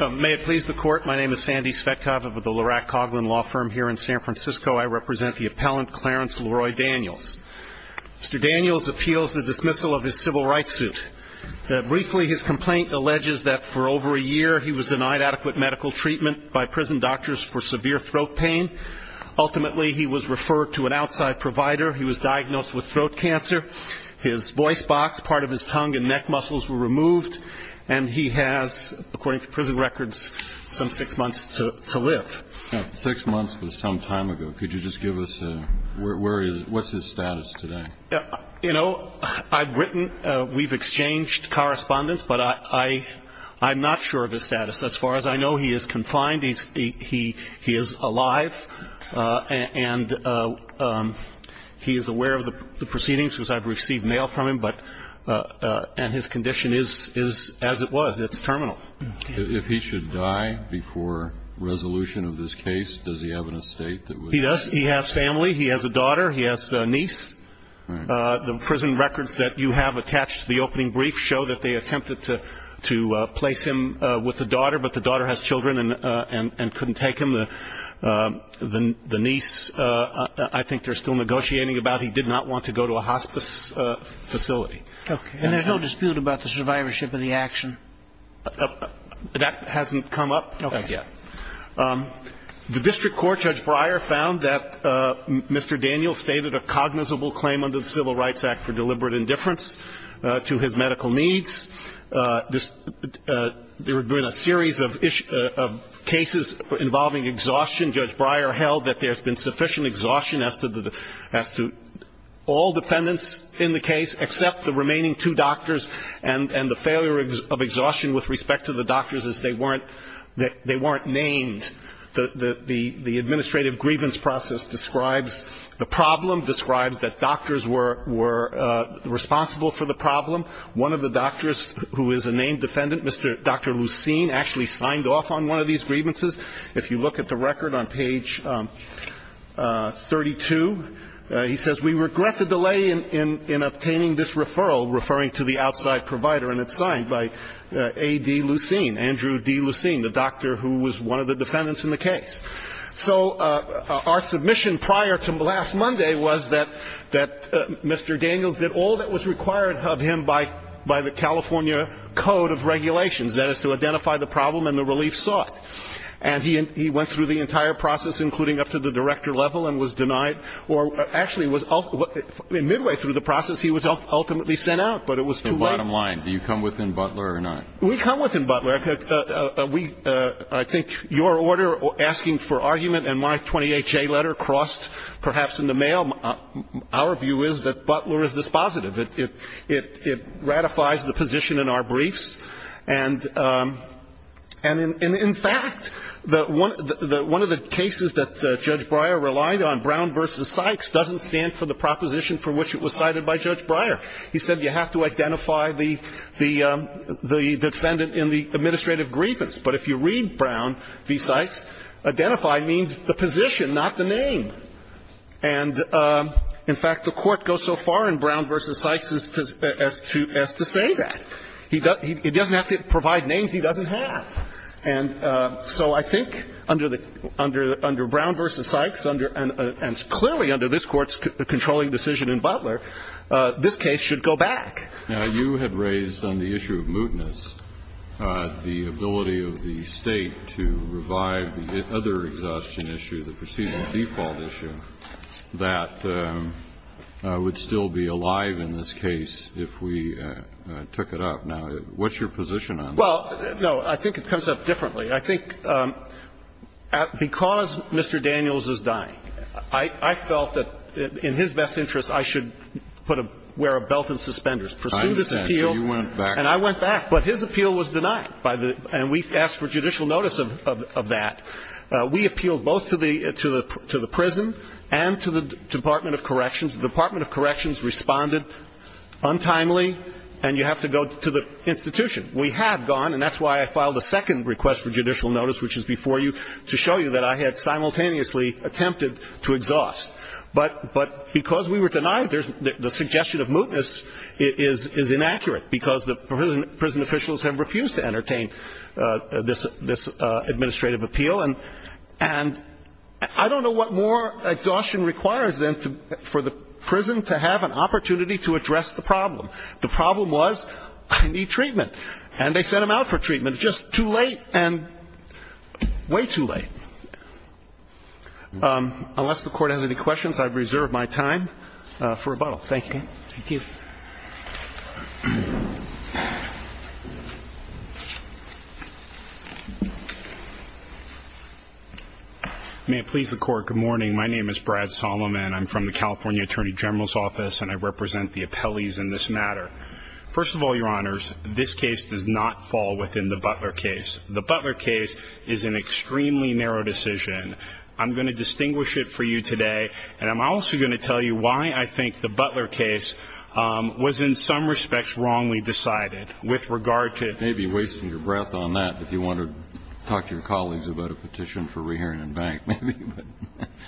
May it please the Court, my name is Sandy Svetkov of the Lurack Coughlin Law Firm here in San Francisco. I represent the appellant, Clarence Leroy Daniels. Mr. Daniels appeals the dismissal of his civil rights suit. Briefly, his complaint alleges that for over a year he was denied adequate medical treatment by prison doctors for severe throat pain. Ultimately, he was referred to an outside provider. He was diagnosed with throat cancer. His voice box, part of his tongue and neck muscles were removed. And he has, according to prison records, some six months to live. Six months was some time ago. Could you just give us where he is? What's his status today? You know, I've written. We've exchanged correspondence, but I'm not sure of his status. As far as I know, he is confined. He is alive. And he is aware of the proceedings because I've received mail from him. And his condition is as it was. It's terminal. If he should die before resolution of this case, does he have an estate that would? He does. He has family. He has a daughter. He has a niece. The prison records that you have attached to the opening brief show that they attempted to place him with a daughter, but the daughter has children and couldn't take him. The niece I think they're still negotiating about. He did not want to go to a hospice facility. Okay. And there's no dispute about the survivorship of the action? That hasn't come up as yet. Okay. The district court, Judge Breyer, found that Mr. Daniels stated a cognizable claim under the Civil Rights Act for deliberate indifference to his medical needs. There have been a series of cases involving exhaustion. Judge Breyer held that there's been sufficient exhaustion as to all defendants in the case except the remaining two doctors, and the failure of exhaustion with respect to the doctors is they weren't named. The administrative grievance process describes the problem, describes that doctors were responsible for the problem. One of the doctors who is a named defendant, Dr. Lucene, actually signed off on one of these grievances. If you look at the record on page 32, he says, We regret the delay in obtaining this referral, referring to the outside provider. And it's signed by A.D. Lucene, Andrew D. Lucene, the doctor who was one of the defendants in the case. So our submission prior to last Monday was that Mr. Daniels did all that was required of him by the California Code of Regulations, that is, to identify the problem and the relief sought. And he went through the entire process, including up to the director level, and was denied or actually was midway through the process he was ultimately sent out. But it was too late. The bottom line, do you come within Butler or not? We come within Butler. I think your order asking for argument and my 28-J letter crossed perhaps in the mail. Our view is that Butler is dispositive. It ratifies the position in our briefs. And in fact, one of the cases that Judge Breyer relied on, Brown v. Sykes, doesn't stand for the proposition for which it was cited by Judge Breyer. He said you have to identify the defendant in the administrative grievance. But if you read Brown v. Sykes, identify means the position, not the name. And in fact, the Court goes so far in Brown v. Sykes as to say that. He doesn't have to provide names he doesn't have. And so I think under Brown v. Sykes and clearly under this Court's controlling decision in Butler, this case should go back. Now, you had raised on the issue of mootness the ability of the State to revive the other exhaustion issue, the procedural default issue, that would still be alive in this case if we took it up. Now, what's your position on that? Well, no, I think it comes up differently. I think because Mr. Daniels is dying, I felt that in his best interest, I should put a belt and suspenders, pursue this appeal. I understand. So you went back. And I went back. But his appeal was denied. And we asked for judicial notice of that. We appealed both to the prison and to the Department of Corrections. The Department of Corrections responded untimely. And you have to go to the institution. We have gone, and that's why I filed a second request for judicial notice, which is before you, to show you that I had simultaneously attempted to exhaust. But because we were denied, the suggestion of mootness is inaccurate, because the prison officials have refused to entertain this administrative appeal. And I don't know what more exhaustion requires then for the prison to have an opportunity to address the problem. The problem was, I need treatment. And they sent him out for treatment just too late and way too late. Unless the Court has any questions, I've reserved my time for rebuttal. Thank you. Thank you. Thank you. May it please the Court, good morning. My name is Brad Solomon. I'm from the California Attorney General's Office. And I represent the appellees in this matter. First of all, Your Honors, this case does not fall within the Butler case. The Butler case is an extremely narrow decision. I'm going to distinguish it for you today. And I'm also going to tell you why I think the Butler case was, in some respects, wrongly decided with regard to... You may be wasting your breath on that if you want to talk to your colleagues about a petition for re-hearing in bank.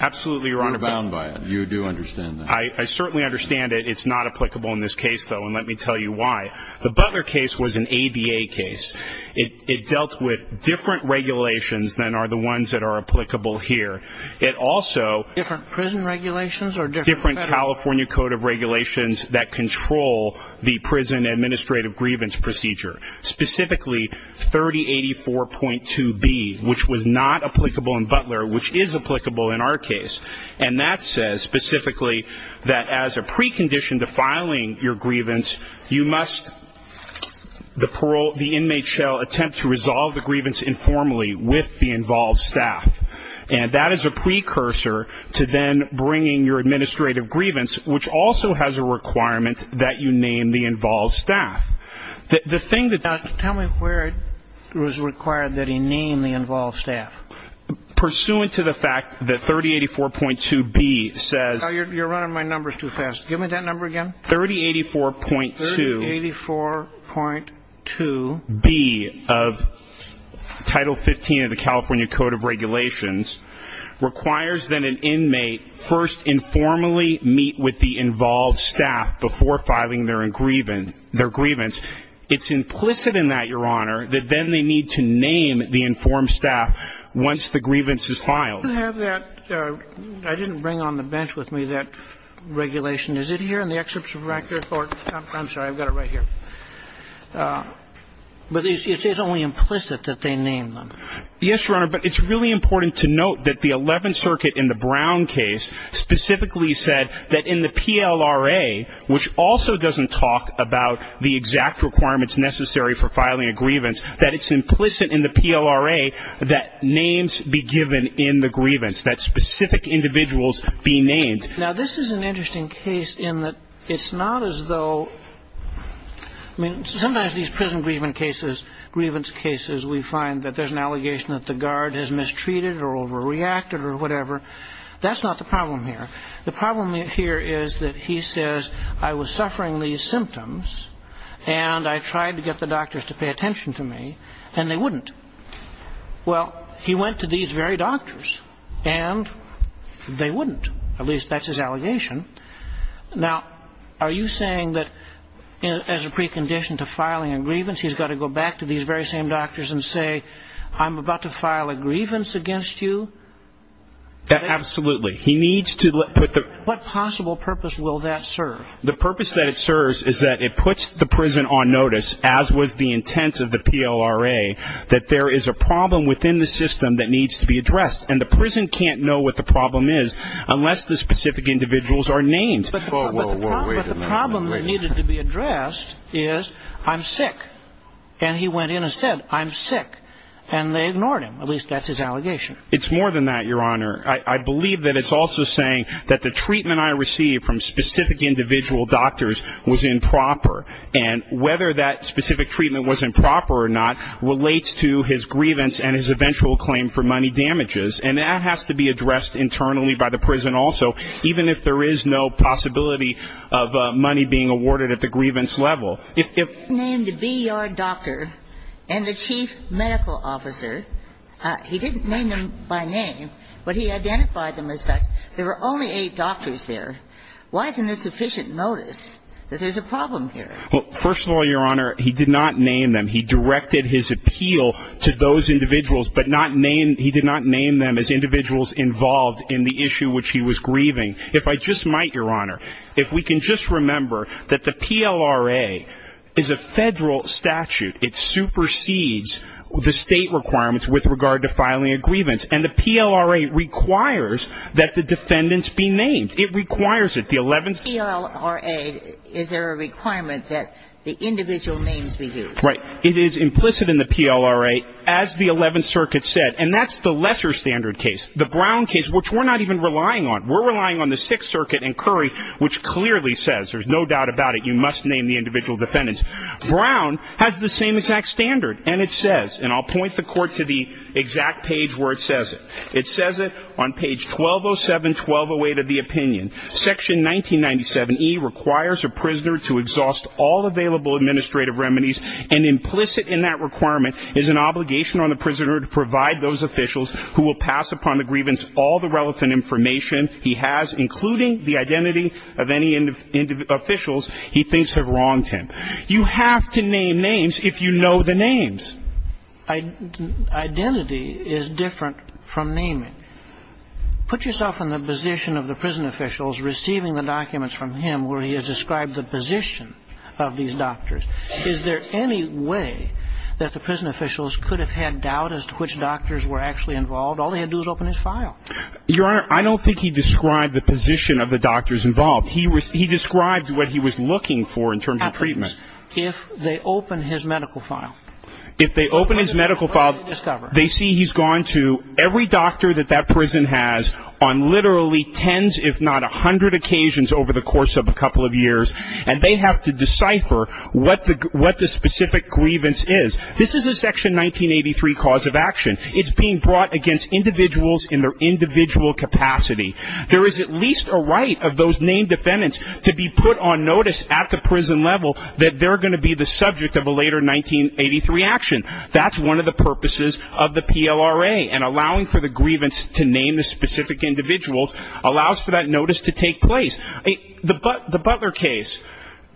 Absolutely, Your Honor. You're bound by it. You do understand that. I certainly understand it. It's not applicable in this case, though. And let me tell you why. The Butler case was an ABA case. It dealt with different regulations than are the ones that are applicable here. It also... Different prison regulations or different federal... Different California Code of Regulations that control the prison administrative grievance procedure. Specifically, 3084.2B, which was not applicable in Butler, which is applicable in our case. And that says, specifically, that as a precondition to filing your grievance, you must... The parole... The inmate shall attempt to resolve the grievance informally with the involved staff. And that is a precursor to then bringing your administrative grievance, which also has a requirement that you name the involved staff. The thing that... Tell me where it was required that he name the involved staff. Pursuant to the fact that 3084.2B says... You're running my numbers too fast. Give me that number again. 3084.2... 3084.2... 3084.2B of Title 15 of the California Code of Regulations requires that an inmate first informally meet with the involved staff before filing their grievance. It's implicit in that, Your Honor, that then they need to name the informed staff once the grievance is filed. I didn't bring on the bench with me that regulation. Is it here in the excerpts of record? I'm sorry. I've got it right here. But it's only implicit that they name them. Yes, Your Honor, but it's really important to note that the Eleventh Circuit in the Brown case specifically said that in the PLRA, which also doesn't talk about the exact requirements necessary for filing a grievance, that it's implicit in the PLRA that names be given in the grievance, that specific individuals be named. Now, this is an interesting case in that it's not as though... I mean, sometimes these prison grievance cases, we find that there's an allegation that the guard has mistreated or overreacted or whatever. That's not the problem here. The problem here is that he says, I was suffering these symptoms, and I tried to get the doctors to pay attention to me, and they wouldn't. Well, he went to these very doctors, and they wouldn't. At least that's his allegation. Now, are you saying that as a precondition to filing a grievance, he's got to go back to these very same doctors and say, I'm about to file a grievance against you? Absolutely. What possible purpose will that serve? The purpose that it serves is that it puts the prison on notice, as was the intent of the PLRA, that there is a problem within the system that needs to be addressed, and the prison can't know what the problem is unless the specific individuals are named. But the problem that needed to be addressed is, I'm sick, and he went in and said, I'm sick, and they ignored him. At least that's his allegation. It's more than that, Your Honor. I believe that it's also saying that the treatment I received from specific individual doctors was improper, and whether that specific treatment was improper or not relates to his grievance and his eventual claim for money damages, and that has to be addressed internally by the prison also, even if there is no possibility of money being awarded at the grievance level. If he named a B.E.R. doctor and the chief medical officer, he didn't name them by name, but he identified them as such. There were only eight doctors there. Why isn't this sufficient notice that there's a problem here? Well, first of all, Your Honor, he did not name them. He directed his appeal to those individuals, but he did not name them as individuals involved in the issue which he was grieving. If I just might, Your Honor, if we can just remember that the PLRA is a federal statute. It supersedes the state requirements with regard to filing a grievance, and the PLRA requires that the defendants be named. It requires it. The 11th Circuit. PLRA, is there a requirement that the individual names be used? Right. It is implicit in the PLRA, as the 11th Circuit said, and that's the lesser standard case. The Brown case, which we're not even relying on. We're relying on the 6th Circuit and Curry, which clearly says, there's no doubt about it, you must name the individual defendants. Brown has the same exact standard, and it says, and I'll point the Court to the exact page where it says it. It says it on page 1207, 1208 of the opinion. Section 1997E requires a prisoner to exhaust all available administrative remedies and implicit in that requirement is an obligation on the prisoner to provide those officials who will pass upon the grievance all the relevant information he has, including the identity of any officials he thinks have wronged him. You have to name names if you know the names. Identity is different from naming. Put yourself in the position of the prison officials receiving the documents from him where he has described the position of these doctors. Is there any way that the prison officials could have had doubt as to which doctors were actually involved? All they had to do was open his file. Your Honor, I don't think he described the position of the doctors involved. He described what he was looking for in terms of treatment. At least if they open his medical file. If they open his medical file, they see he's gone to every doctor that that prison has on literally tens if not a hundred occasions over the course of a couple of years, and they have to decipher what the specific grievance is. This is a Section 1983 cause of action. It's being brought against individuals in their individual capacity. There is at least a right of those named defendants to be put on notice at the prison level that they're going to be the subject of a later 1983 action. That's one of the purposes of the PLRA, and allowing for the grievance to name the specific individuals allows for that notice to take place. The Butler case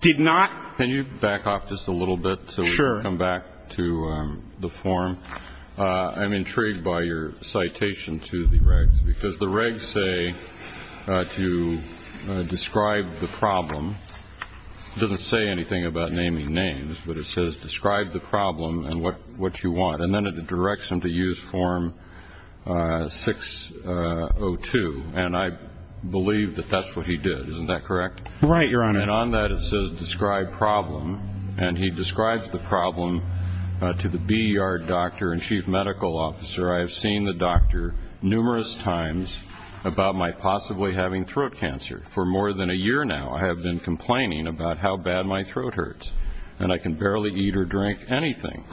did not. Can you back off just a little bit so we can come back to the form? Sure. I'm intrigued by your citation to the regs, because the regs say to describe the problem. It doesn't say anything about naming names, but it says, describe the problem and what you want, and then it directs him to use Form 602, and I believe that that's what he did. Isn't that correct? Right, Your Honor. And on that it says, describe problem, and he describes the problem to the bee yard doctor and chief medical officer. I have seen the doctor numerous times about my possibly having throat cancer. For more than a year now I have been complaining about how bad my throat hurts, and I can barely eat or drink anything.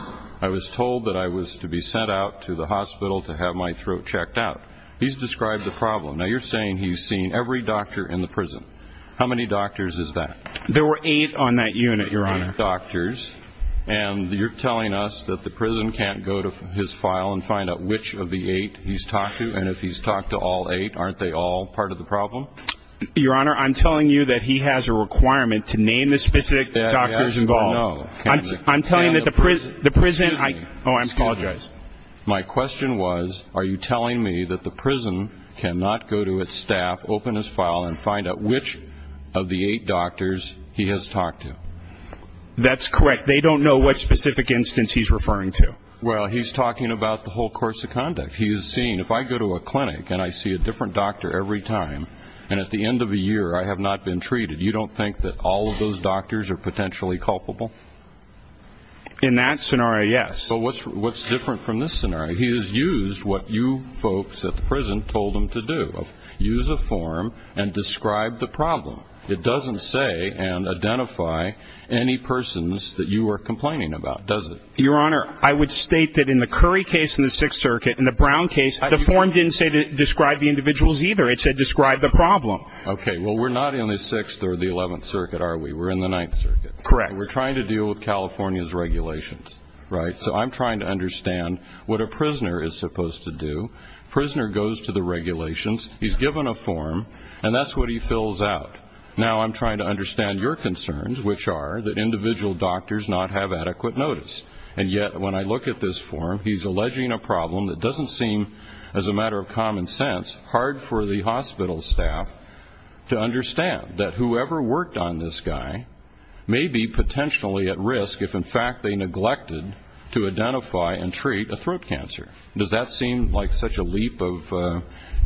I was told that I was to be sent out to the hospital to have my throat checked out. He's described the problem. Now, you're saying he's seen every doctor in the prison. How many doctors is that? There were eight on that unit, Your Honor. Eight doctors, and you're telling us that the prison can't go to his file and find out which of the eight he's talked to, and if he's talked to all eight, aren't they all part of the problem? Your Honor, I'm telling you that he has a requirement to name the specific doctors involved. I'm telling you that the prison – Excuse me. Oh, I apologize. My question was, are you telling me that the prison cannot go to its staff, open his file, and find out which of the eight doctors he has talked to? That's correct. They don't know what specific instance he's referring to. Well, he's talking about the whole course of conduct. He is saying, if I go to a clinic and I see a different doctor every time, and at the end of a year I have not been treated, you don't think that all of those doctors are potentially culpable? In that scenario, yes. Well, what's different from this scenario? He has used what you folks at the prison told him to do. Use a form and describe the problem. It doesn't say and identify any persons that you are complaining about, does it? Your Honor, I would state that in the Curry case in the Sixth Circuit, in the Brown case, the form didn't say describe the individuals either. It said describe the problem. Okay. Well, we're not in the Sixth or the Eleventh Circuit, are we? We're in the Ninth Circuit. Correct. We're trying to deal with California's regulations, right? So I'm trying to understand what a prisoner is supposed to do. Prisoner goes to the regulations, he's given a form, and that's what he fills out. Now I'm trying to understand your concerns, which are that individual doctors not have adequate notice. And yet, when I look at this form, he's alleging a problem that doesn't seem, as a matter of common sense, hard for the hospital staff to understand, that whoever worked on this guy may be potentially at risk if, in fact, they neglected to identify and treat a throat cancer. Does that seem like such a leap of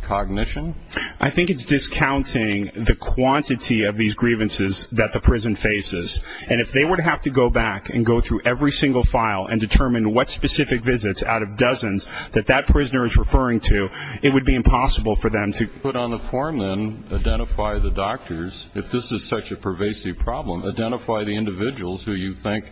cognition? I think it's discounting the quantity of these grievances that the prison faces. And if they were to have to go back and go through every single file and determine what specific visits out of dozens that that prisoner is referring to, it would be impossible for them to put on the form and identify the doctors, if this is such a pervasive problem, identify the individuals who you think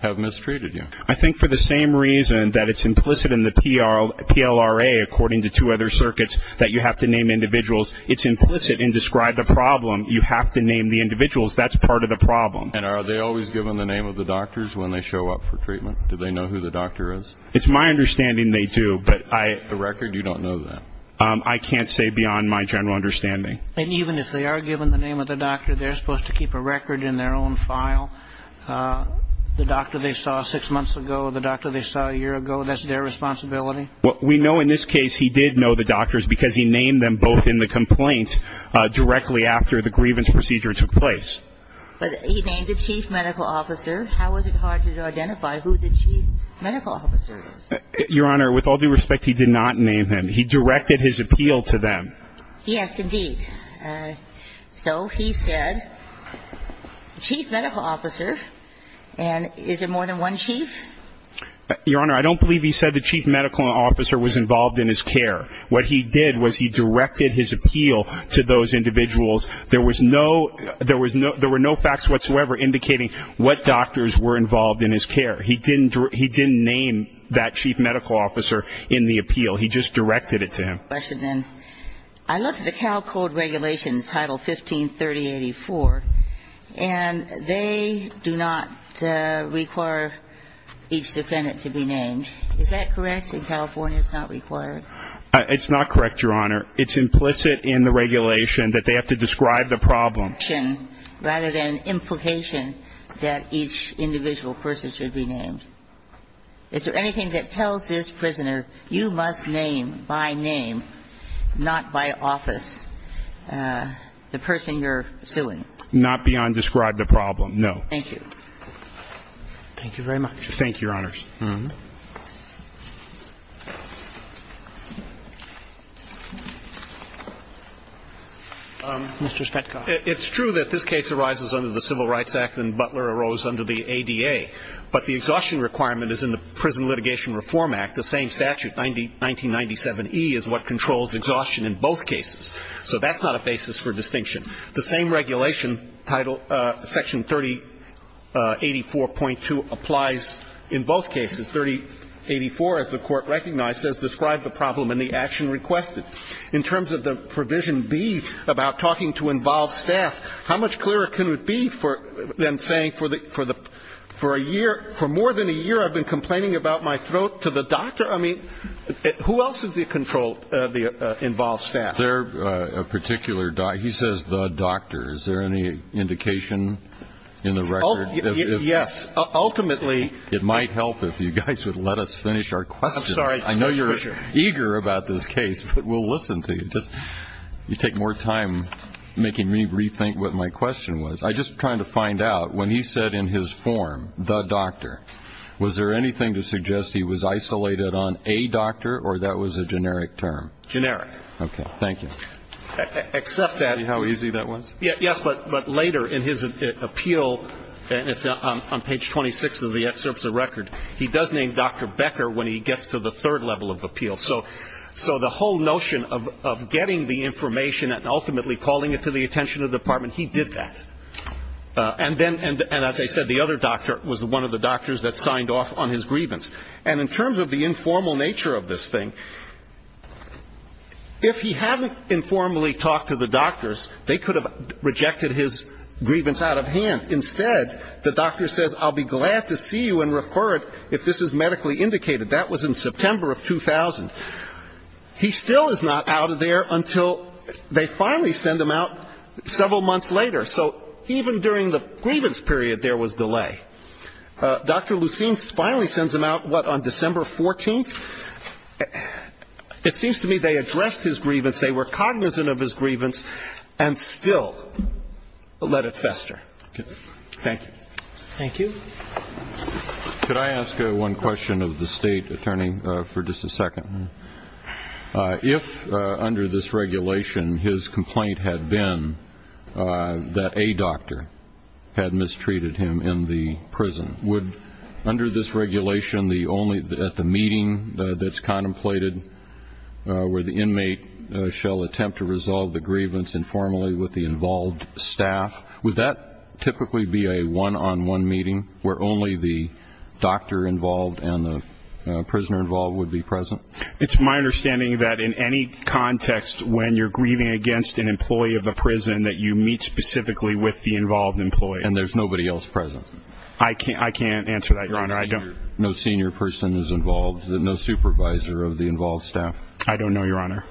have mistreated you. I think for the same reason that it's implicit in the PLRA, according to two other circuits, that you have to name individuals, it's implicit in describe the problem you have to name the individuals. That's part of the problem. And are they always given the name of the doctors when they show up for treatment? Do they know who the doctor is? It's my understanding they do, but I... The record, you don't know that? I can't say beyond my general understanding. And even if they are given the name of the doctor, they're supposed to keep a record in their own file? The doctor they saw six months ago, the doctor they saw a year ago, that's their responsibility? Well, we know in this case he did know the doctors because he named them both in the complaint directly after the grievance procedure took place. But he named the chief medical officer. How is it hard to identify who the chief medical officer is? Your Honor, with all due respect, he did not name him. He directed his appeal to them. Yes, indeed. So he said, chief medical officer, and is there more than one chief? Your Honor, I don't believe he said the chief medical officer was involved in his care. What he did was he directed his appeal to those individuals. There was no facts whatsoever indicating what doctors were involved in his care. He didn't name that chief medical officer in the appeal. He just directed it to him. I have a question then. I looked at the Cal Code regulations, Title 15-3084, and they do not require each defendant to be named. Is that correct? In California it's not required? It's not correct, Your Honor. It's implicit in the regulation that they have to describe the problem. Rather than implication that each individual person should be named. Is there anything that tells this prisoner, you must name by name, not by office, the person you're suing? Not beyond describe the problem, no. Thank you. Thank you very much. Thank you, Your Honors. Mr. Stretkoff. It's true that this case arises under the Civil Rights Act and Butler arose under the ADA, but the exhaustion requirement is in the Prison Litigation Reform Act, the same statute. 1997E is what controls exhaustion in both cases. So that's not a basis for distinction. The same regulation, Section 3084.2, applies in both cases. 3084, as the Court recognized, says describe the problem and the action requested. In terms of the provision B about talking to involved staff, how much clearer can it be than saying for more than a year I've been complaining about my throat to the doctor? I mean, who else is involved staff? He says the doctor. Is there any indication in the record? Yes. Ultimately. It might help if you guys would let us finish our questions. I'm sorry. I know you're eager about this case, but we'll listen to you. You take more time making me rethink what my question was. I'm just trying to find out, when he said in his form, the doctor, was there anything to suggest he was isolated on a doctor or that was a generic term? Generic. Okay. Thank you. Except that. See how easy that was? Yes, but later in his appeal, and it's on page 26 of the excerpt of the record, he does name Dr. Becker when he gets to the third level of appeal. So the whole notion of getting the information and ultimately calling it to the attention of the Department, he did that. And as I said, the other doctor was one of the doctors that signed off on his grievance. And in terms of the informal nature of this thing, if he hadn't informally talked to the doctors, they could have rejected his grievance out of hand. Instead, the doctor says, I'll be glad to see you and refer it if this is medically indicated. That was in September of 2000. He still is not out of there until they finally send him out several months later. So even during the grievance period, there was delay. Dr. Lucene finally sends him out, what, on December 14th? It seems to me they addressed his grievance, they were cognizant of his grievance, and still let it fester. Okay. Thank you. Thank you. Could I ask one question of the State Attorney for just a second? If, under this regulation, his complaint had been that a doctor had mistreated him in the prison, would, under this regulation, at the meeting that's contemplated, where the inmate shall attempt to resolve the grievance informally with the involved staff, would that typically be a one-on-one meeting where only the doctor involved and the prisoner involved would be present? It's my understanding that in any context when you're grieving against an employee of the prison, that you meet specifically with the involved employee. And there's nobody else present? I can't answer that, Your Honor. No senior person is involved, no supervisor of the involved staff? I don't know, Your Honor.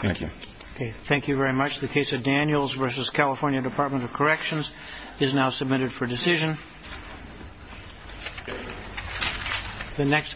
Thank you. Okay. Thank you very much. The case of Daniels v. California Department of Corrections is now submitted for decision.